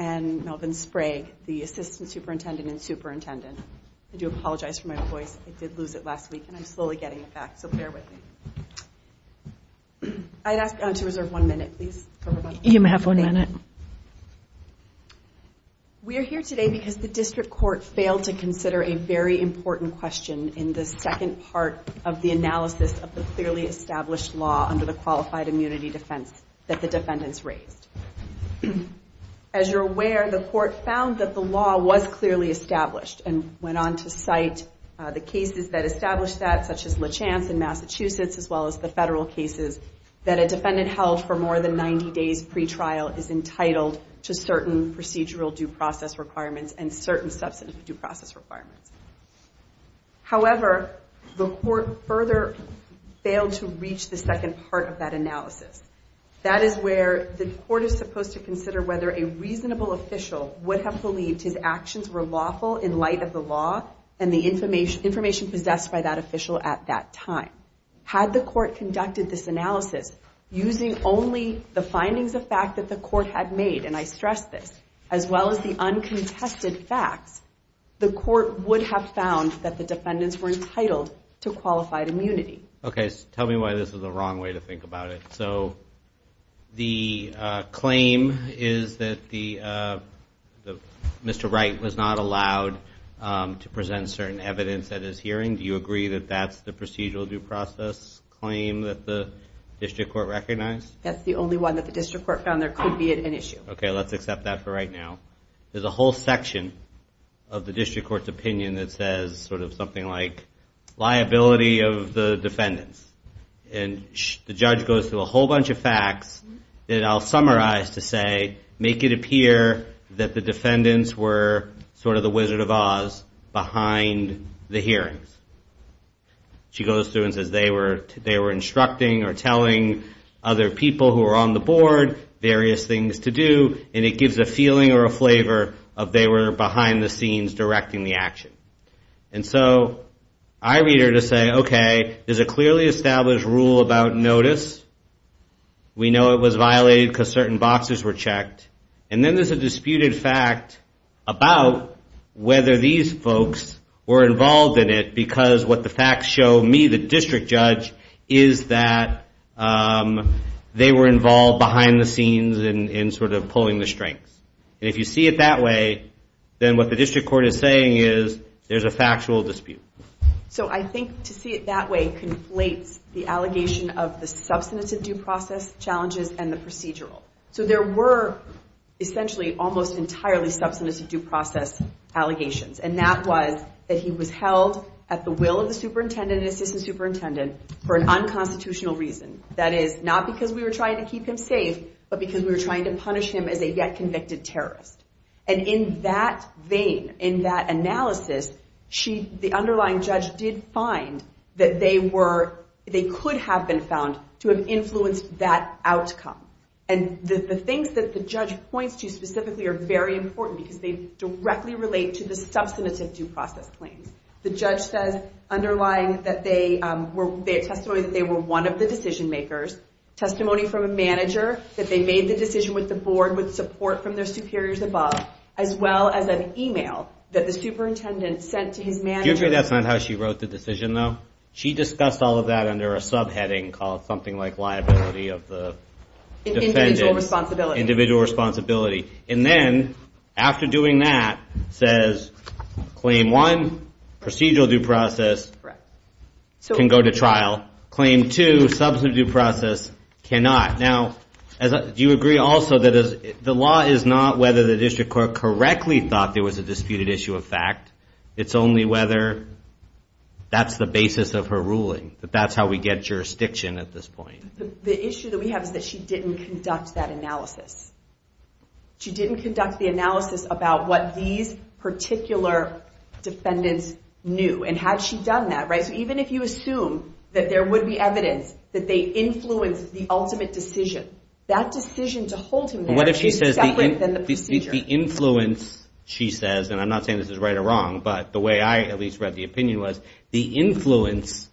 and Melvin Sprague, the assistant superintendent and superintendent. I do apologize for my voice. I did lose it last week, and I'm slowly getting it back, so bear with me. I'd ask to reserve one minute for questions. You may have one minute. We're here today because the district court failed to consider a very important question in the second part of the analysis of the clearly established law under the qualified immunity defense that the defendants raised. As you're aware, the court found that the law was clearly established and went on to cite the cases that established that, such as LeChance in Massachusetts, as well as the federal cases that a defendant held for fraud. However, the court further failed to reach the second part of that analysis. That is where the court is supposed to consider whether a reasonable official would have believed his actions were lawful in light of the law and the information possessed by that official at that time. Had the court conducted this analysis using only the findings of fact that the court had made, and I stress this, as well as the uncontested facts, the court would have found that the defendants were entitled to qualified immunity. Okay, tell me why this is the wrong way to think about it. So the claim is that Mr. Wright was not allowed to present certain evidence at his hearing. Do you agree that that's the procedural due process claim that the district court recognized? That's the only one that the district court found there could be an issue. Okay, let's accept that for right now. There's a whole section of the district court's opinion that says something like, liability of the defendants. And the judge goes through a whole bunch of facts that I'll summarize to say, make it appear that the defendants were sort of the Wizard of Oz behind the hearings. She goes through and says they were instructing or telling other people who were on the board various things to do, and it gives a feeling or a flavor of they were behind the scenes directing the action. And so I read her to say, okay, there's a clearly established rule about notice. We know it was violated because certain boxes were checked. And then there's a disputed fact about whether these folks were involved in it because what the facts show me, the district judge, is that they were involved behind the scenes in sort of pulling the strings. And if you see it that way, then what the district court is saying is there's a factual dispute. So I think to see it that way conflates the allegation of the substantive due process challenges and the procedural. So there were essentially almost entirely substantive due process allegations, and that was that he was held at the will of the superintendent and assistant superintendent for an unconstitutional reason. That is, not because we were trying to keep him safe, but because we were trying to punish him as a yet convicted terrorist. And in that vein, in that analysis, the underlying judge did find that they could have been found to have influenced that outcome. And the things that the judge points to specifically are very important because they directly relate to the substantive due process claims. The judge says underlying that they were, they have testimony that they were one of the decision makers. Testimony from a manager that they made the decision with the board with support from their superiors above, as well as an email that the superintendent sent to his manager. Do you agree that's not how she wrote the decision though? She discussed all of that under a subheading called something like liability of the defendant. Individual responsibility. And then, after doing that, says claim one, procedural due process can go to trial. Claim two, substantive due process cannot. Now, do you agree also that the law is not whether the district court correctly thought there was a disputed issue of fact? It's only whether that's the basis of her ruling, that that's how we get jurisdiction at this point. The issue that we have is that she didn't conduct that analysis. She didn't conduct the analysis about what these particular defendants knew. And had she done that, right, so even if you assume that there would be evidence that they influenced the ultimate decision, that decision to hold him there is separate than the procedure. The influence, she says, and I'm not saying this is right or wrong, but the way I at least read the opinion was, the influence,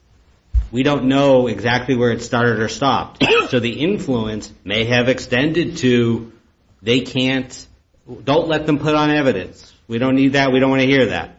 we don't know exactly where it started or stopped. So the influence may have extended to they can't, don't let them put on evidence. We don't need that. We don't want to hear that.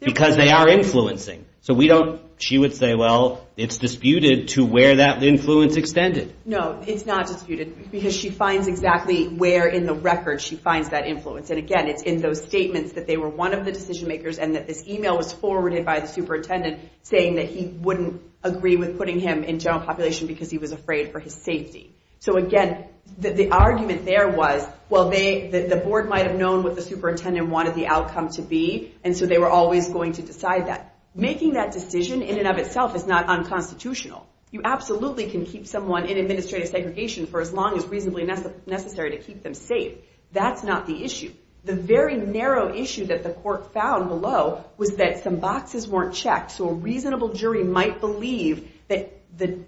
Because they are influencing. So we don't, she would say, well, it's disputed to where that influence extended. No, it's not disputed because she finds exactly where in the record she finds that influence. And, again, it's in those statements that they were one of the decision makers and that this email was forwarded by the superintendent saying that he wouldn't agree with putting him in general population because he was afraid for his safety. So, again, the argument there was, well, the board might have known what the superintendent wanted the outcome to be, and so they were always going to decide that. Making that decision in and of itself is not unconstitutional. You absolutely can keep someone in administrative segregation for as long as reasonably necessary to keep them safe. That's not the issue. The very narrow issue that the court found below was that some boxes weren't checked. So a reasonable jury might believe that the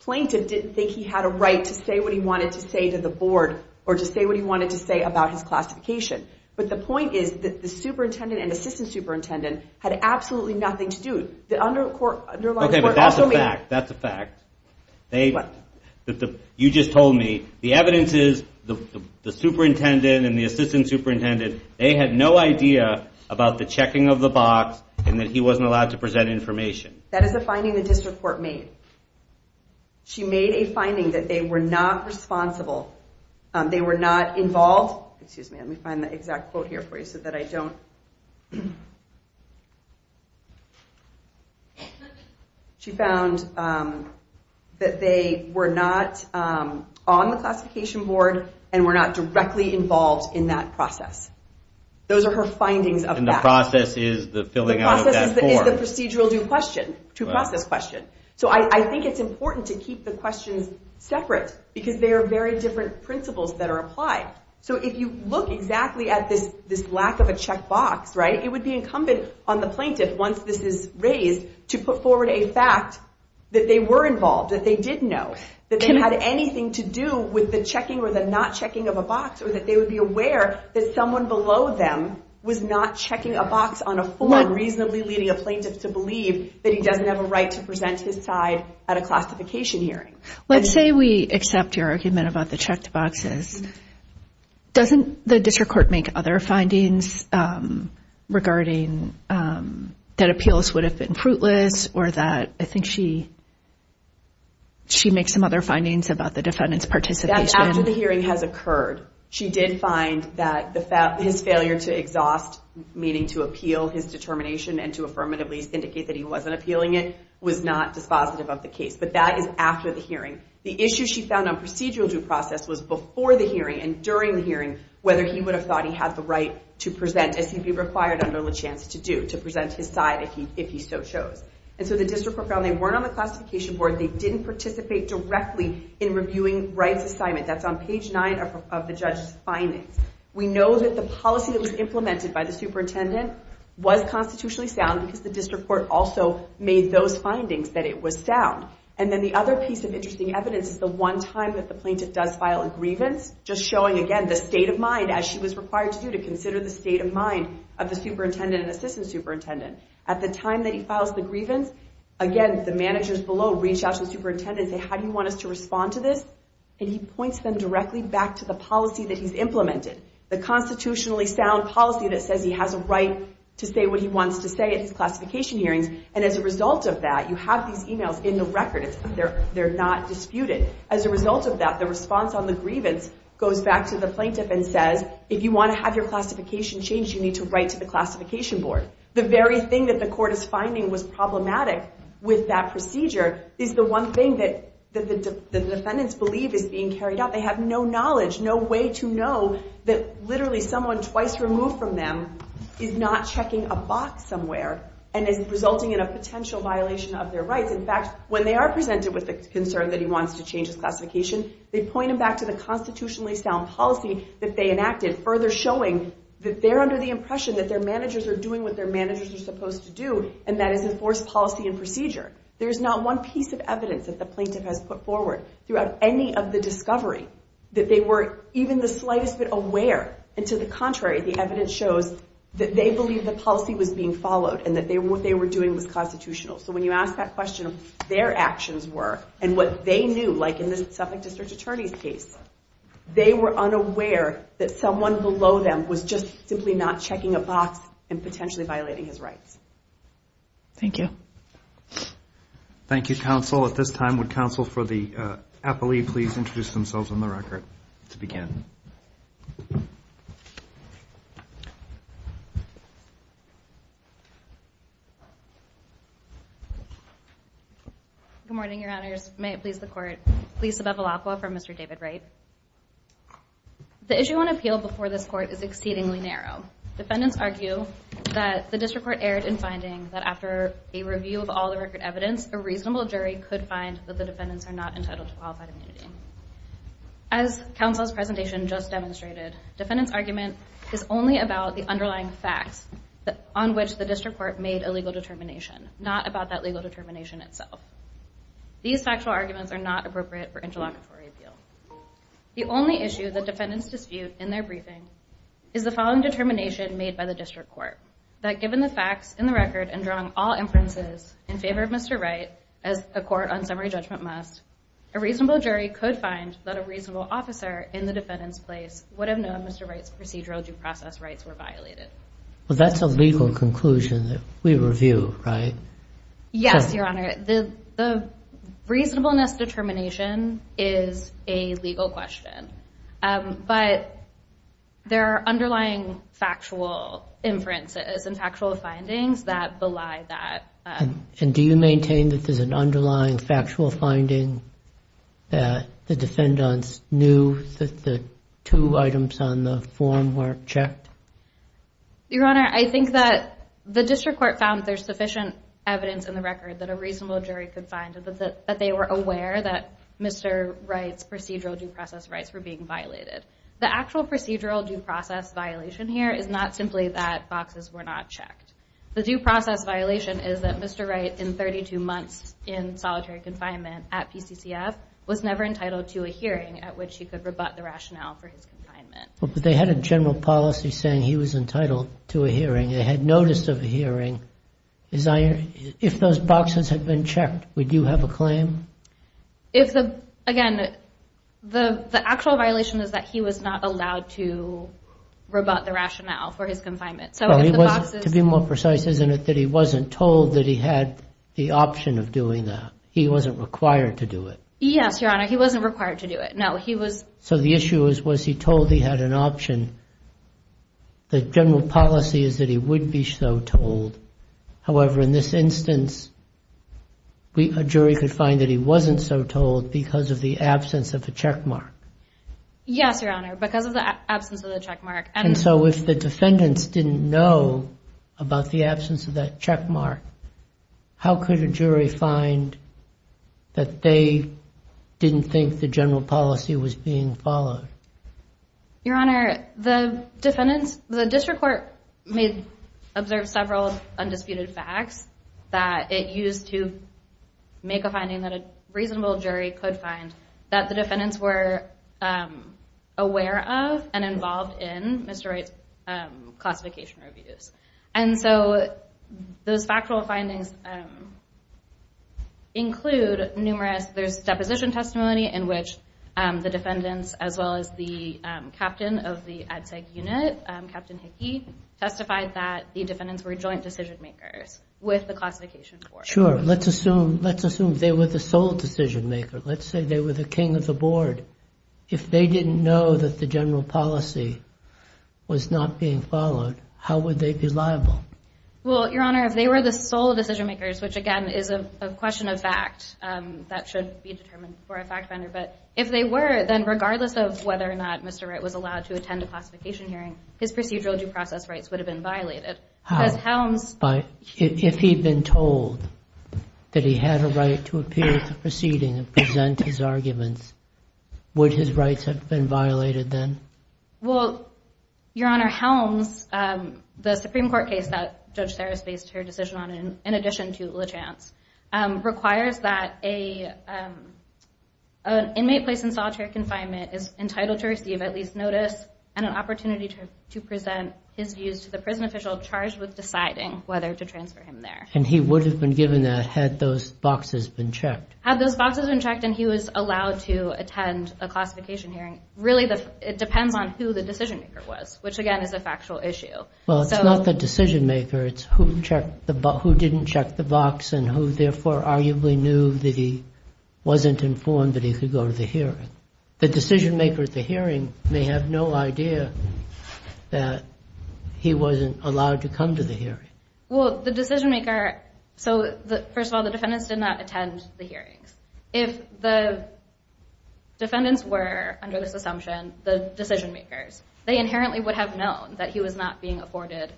plaintiff didn't think he had a right to say what he wanted to say to the board or to say what he wanted to say about his classification. But the point is that the superintendent and assistant superintendent had absolutely nothing to do. The underlying court also made. Okay, but that's a fact. That's a fact. What? You just told me the evidence is the superintendent and the assistant superintendent, they had no idea about the checking of the box and that he wasn't allowed to present information. That is a finding the district court made. She made a finding that they were not responsible. They were not involved. Excuse me. Let me find the exact quote here for you so that I don't... She found that they were not on the classification board and were not directly involved in that process. Those are her findings of that. And the process is the filling out of that form. The process is the procedural due process question. So I think it's important to keep the questions separate because they are very different principles that are applied. So if you look exactly at this lack of a check box, right, it would be incumbent on the plaintiff, once this is raised, to put forward a fact that they were involved, that they did know, that they had anything to do with the checking or the not checking of a box or that they would be aware that someone below them was not checking a box on a form reasonably leading a plaintiff to believe that he doesn't have a right to present his side at a classification hearing. Let's say we accept your argument about the checked boxes. Doesn't the district court make other findings regarding that appeals would have been fruitless or that I think she makes some other findings about the defendant's participation? That's after the hearing has occurred. She did find that his failure to exhaust, meaning to appeal his determination and to affirmatively indicate that he wasn't appealing it, was not dispositive of the case. But that is after the hearing. The issue she found on procedural due process was before the hearing and during the hearing, whether he would have thought he had the right to present as he'd be required under LaChance to do, to present his side if he so chose. And so the district court found they weren't on the classification board. They didn't participate directly in reviewing Wright's assignment. That's on page 9 of the judge's findings. We know that the policy that was implemented by the superintendent was constitutionally sound because the district court also made those findings that it was sound. And then the other piece of interesting evidence is the one time that the plaintiff does file a grievance, just showing, again, the state of mind as she was required to do to consider the state of mind of the superintendent and assistant superintendent. At the time that he files the grievance, again, the managers below reach out to the superintendent and say, how do you want us to respond to this? And he points them directly back to the policy that he's implemented, the constitutionally sound policy that says he has a right to say what he wants to say at his classification hearings. And as a result of that, you have these emails in the record. They're not disputed. As a result of that, the response on the grievance goes back to the plaintiff and says, if you want to have your classification changed, you need to write to the classification board. The very thing that the court is finding was problematic with that procedure is the one thing that the defendants believe is being carried out. They have no knowledge, no way to know that literally someone twice removed from them is not checking a box somewhere. And it's resulting in a potential violation of their rights. In fact, when they are presented with the concern that he wants to change his classification, they point him back to the constitutionally sound policy that they enacted, further showing that they're under the impression that their managers are doing what their managers are supposed to do, and that is enforce policy and procedure. There's not one piece of evidence that the plaintiff has put forward throughout any of the discovery that they were even the slightest bit aware. And to the contrary, the evidence shows that they believe the policy was being followed and that what they were doing was constitutional. So when you ask that question of what their actions were and what they knew, like in the Suffolk District Attorney's case, they were unaware that someone below them was just simply not checking a box and potentially violating his rights. Thank you. Thank you, counsel. At this time, would counsel for the appellee please introduce themselves on the record to begin. Good morning, your honors. May it please the court, Lisa Bevilacqua for Mr. David Wright. The issue on appeal before this court is exceedingly narrow. Defendants argue that the district court erred in finding that after a review of all the record evidence, a reasonable jury could find that the defendants are not entitled to qualified immunity. As counsel's presentation just demonstrated, defendant's argument is only about the underlying facts on which the district court made a legal determination, not about that legal determination itself. These factual arguments are not appropriate for interlocutory appeal. The only issue that defendants dispute in their briefing is the following determination made by the district court, that given the facts in the record and drawing all inferences in favor of Mr. Wright as a court on summary judgment must, a reasonable jury could find that a reasonable officer in the defendant's place would have known Mr. Wright's procedural due process rights were violated. Well, that's a legal conclusion that we review, right? Yes, your honor. The reasonableness determination is a legal question, but there are underlying factual inferences and factual findings that belie that. And do you maintain that there's an underlying factual finding that the defendants knew that the two items on the form were checked? Your honor, I think that the district court found there's sufficient evidence in the record that a reasonable jury could find that they were aware that Mr. Wright's procedural due process rights were being violated. The actual procedural due process violation here is not simply that boxes were not checked. The due process violation is that Mr. Wright, in 32 months in solitary confinement at PCCF, was never entitled to a hearing at which he could rebut the rationale for his confinement. But they had a general policy saying he was entitled to a hearing. They had notice of a hearing. If those boxes had been checked, would you have a claim? Again, the actual violation is that he was not allowed to rebut the rationale for his confinement. To be more precise, isn't it that he wasn't told that he had the option of doing that? He wasn't required to do it. Yes, your honor. He wasn't required to do it. No, he was. So the issue was, was he told he had an option? The general policy is that he would be so told. However, in this instance, a jury could find that he wasn't so told because of the absence of a checkmark. Yes, your honor, because of the absence of the checkmark. And so if the defendants didn't know about the absence of that checkmark, how could a jury find that they didn't think the general policy was being followed? Your honor, the district court observed several undisputed facts that it used to make a finding that a reasonable jury could find that the defendants were aware of and involved in Mr. Wright's classification reviews. And so those factual findings include numerous, there's deposition testimony in which the defendants, as well as the captain of the ad sec unit, Captain Hickey, testified that the defendants were joint decision makers with the classification board. Sure. Let's assume they were the sole decision maker. Let's say they were the king of the board. If they didn't know that the general policy was not being followed, how would they be liable? Well, your honor, if they were the sole decision makers, which again is a question of fact, that should be determined for a fact finder. But if they were, then regardless of whether or not Mr. Wright was allowed to attend a classification hearing, his procedural due process rights would have been violated. But if he'd been told that he had a right to appear at the proceeding and present his arguments, would his rights have been violated then? Well, your honor, Helms, the Supreme Court case that Judge Sarris based her decision on, in addition to LaChance, requires that an inmate placed in solitary confinement is entitled to receive at least notice and an opportunity to present his views to the prison official charged with deciding whether to transfer him there. And he would have been given that had those boxes been checked. Had those boxes been checked and he was allowed to attend a classification hearing, really it depends on who the decision maker was, which again is a factual issue. Well, it's not the decision maker. It's who didn't check the box and who, therefore, arguably knew that he wasn't informed that he could go to the hearing. The decision maker at the hearing may have no idea that he wasn't allowed to come to the hearing. Well, the decision maker, so first of all, the defendants did not attend the hearings. If the defendants were, under this assumption, the decision makers, they inherently would have known that he was not being afforded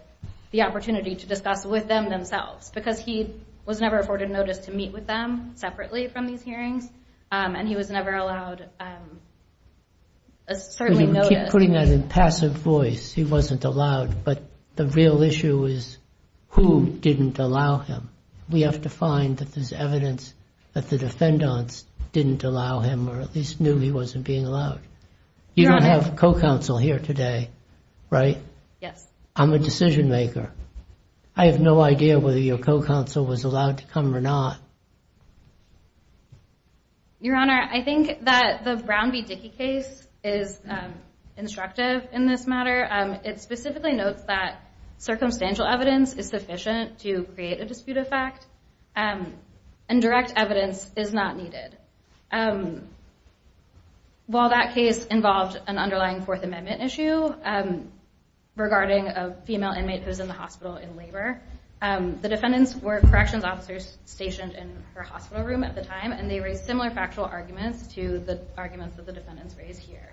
the opportunity to discuss with them themselves because he was never afforded notice to meet with them separately from these hearings and he was never allowed a certain notice. You keep putting that in passive voice. He wasn't allowed, but the real issue is who didn't allow him. We have to find that there's evidence that the defendants didn't allow him or at least knew he wasn't being allowed. You don't have co-counsel here today, right? Yes. I'm a decision maker. I have no idea whether your co-counsel was allowed to come or not. Your Honor, I think that the Brown v. Dickey case is instructive in this matter. It specifically notes that circumstantial evidence is sufficient to create a dispute of fact and direct evidence is not needed. While that case involved an underlying Fourth Amendment issue regarding a female inmate who was in the hospital in labor, the defendants were corrections officers stationed in her hospital room at the time and they raised similar factual arguments to the arguments that the defendants raised here.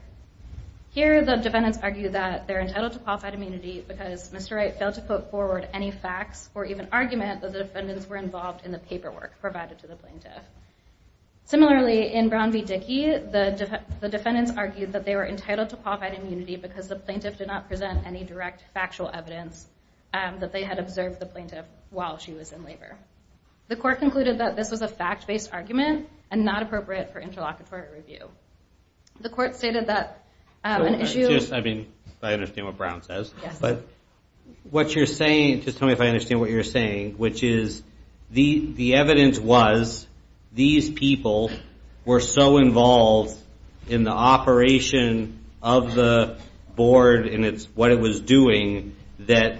Here, the defendants argue that they're entitled to qualified immunity because Mr. Wright failed to put forward any facts or even argument that the defendants were involved in the paperwork provided to the plaintiff. Similarly, in Brown v. Dickey, the defendants argued that they were entitled to qualified immunity because the plaintiff did not present any direct factual evidence that they had observed the plaintiff while she was in labor. The court concluded that this was a fact-based argument and not appropriate for interlocutory review. The court stated that an issue... Just, I mean, I understand what Brown says. Yes. But what you're saying, just tell me if I understand what you're saying, which is the evidence was these people were so involved in the operation of the board and what it was doing that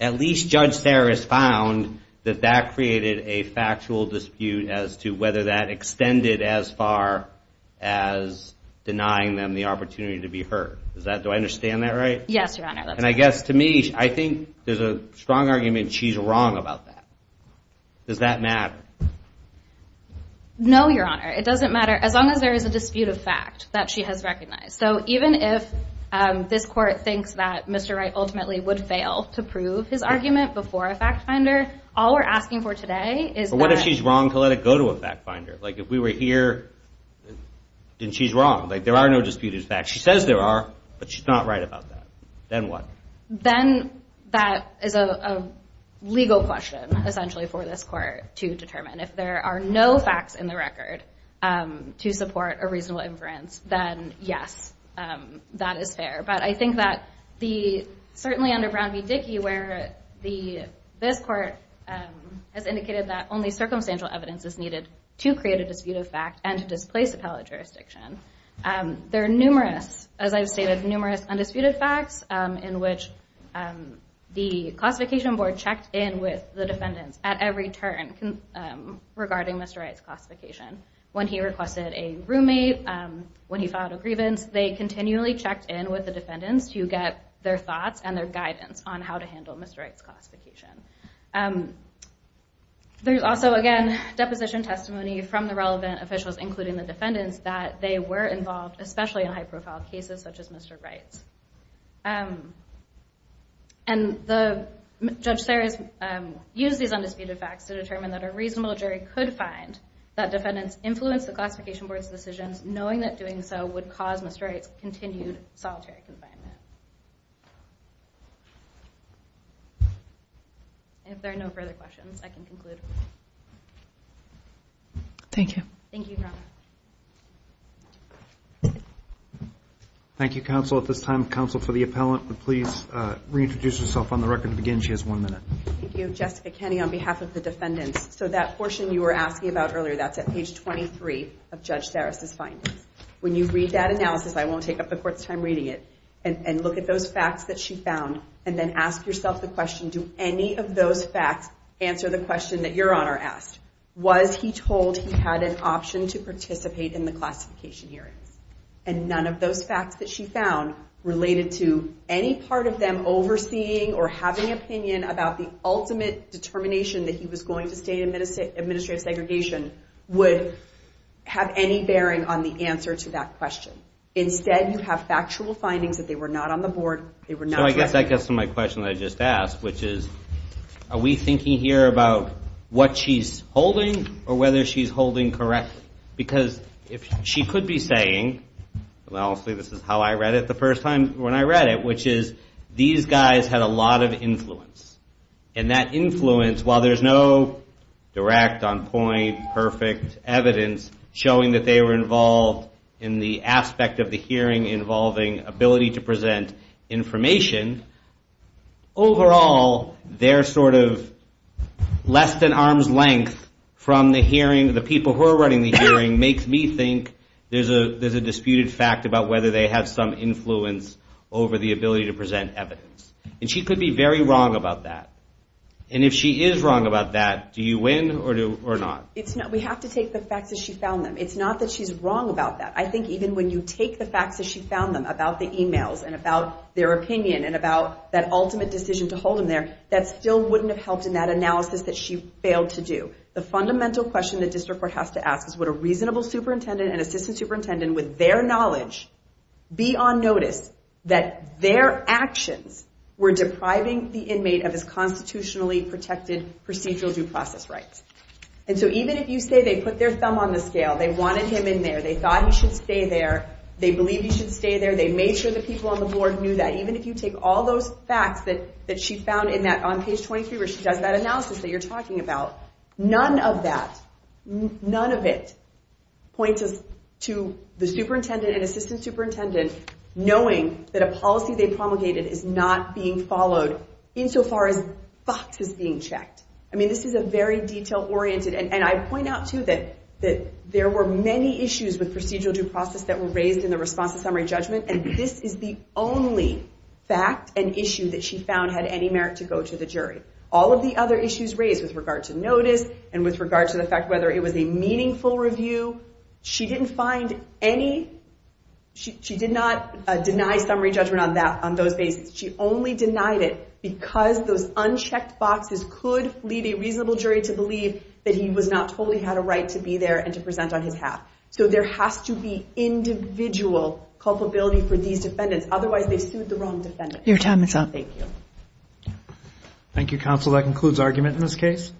at least Judge Saris found that that created a factual dispute as to whether that extended as far as denying them the opportunity to be heard. Does that, do I understand that right? Yes, Your Honor. And I guess to me, I think there's a strong argument she's wrong about that. Does that matter? No, Your Honor. It doesn't matter as long as there is a dispute of fact that she has recognized. So even if this court thinks that Mr. Wright ultimately would fail to prove his argument before a fact finder, all we're asking for today is... But what if she's wrong to let it go to a fact finder? Like if we were here, then she's wrong. Like there are no disputed facts. She says there are, but she's not right about that. Then what? Then that is a legal question essentially for this court to determine. If there are no facts in the record to support a reasonable inference, then yes, that is fair. But I think that certainly under Brown v. Dickey where this court has indicated that only circumstantial evidence is needed to create a dispute of fact and to displace appellate jurisdiction, there are numerous, as I've stated, numerous undisputed facts in which the classification board checked in with the defendants at every turn regarding Mr. Wright's classification. When he requested a roommate, when he filed a grievance, they continually checked in with the defendants to get their thoughts and their guidance on how to handle Mr. Wright's classification. There's also, again, deposition testimony from the relevant officials, including the defendants, that they were involved, especially in high-profile cases such as Mr. Wright's. And Judge Sears used these undisputed facts to determine that a reasonable jury could find that defendants influenced the classification board's decisions, knowing that doing so would cause Mr. Wright's continued solitary confinement. If there are no further questions, I can conclude. Thank you. Thank you, Your Honor. Thank you, counsel. At this time, counsel for the appellant would please reintroduce herself on the record to begin. She has one minute. Thank you. Jessica Kenny on behalf of the defendants. So that portion you were asking about earlier, that's at page 23 of Judge Sears' findings. When you read that analysis, I won't take up the court's time reading it, and look at those facts that she found and then ask yourself the question, do any of those facts answer the question that Your Honor asked? Was he told he had an option to participate in the classification hearings? And none of those facts that she found related to any part of them overseeing or having an opinion about the ultimate determination that he was going to stay in administrative segregation would have any bearing on the answer to that question. Instead, you have factual findings that they were not on the board. So I guess that gets to my question that I just asked, which is are we thinking here about what she's holding or whether she's holding correctly? Because she could be saying, and honestly this is how I read it the first time when I read it, which is these guys had a lot of influence. And that influence, while there's no direct, on point, perfect evidence showing that they were involved in the aspect of the hearing involving ability to present information, overall they're sort of less than arm's length from the hearing, the people who are running the hearing, makes me think there's a disputed fact about whether they have some influence over the ability to present evidence. And she could be very wrong about that. And if she is wrong about that, do you win or not? We have to take the facts as she found them. It's not that she's wrong about that. I think even when you take the facts as she found them about the emails and about their opinion and about that ultimate decision to hold him there, that still wouldn't have helped in that analysis that she failed to do. The fundamental question the district court has to ask is would a reasonable superintendent and assistant superintendent with their knowledge be on notice that their actions were depriving the inmate of his constitutionally protected procedural due process rights? And so even if you say they put their thumb on the scale, they wanted him in there, they thought he should stay there, they believed he should stay there, they made sure the people on the board knew that, even if you take all those facts that she found on page 23 where she does that analysis that you're talking about, none of that, none of it points us to the superintendent and assistant superintendent knowing that a policy they promulgated is not being followed insofar as facts is being checked. I mean, this is a very detail-oriented... And I point out, too, that there were many issues with procedural due process that were raised in the response to summary judgment, and this is the only fact and issue that she found had any merit to go to the jury. All of the other issues raised with regard to notice and with regard to the fact whether it was a meaningful review, she didn't find any... She did not deny summary judgment on those bases. She only denied it because those unchecked boxes could lead a reasonable jury to believe that he was not totally had a right to be there and to present on his half. So there has to be individual culpability for these defendants. Otherwise, they've sued the wrong defendant. Your time is up. Thank you. Thank you, counsel. That concludes argument in this case.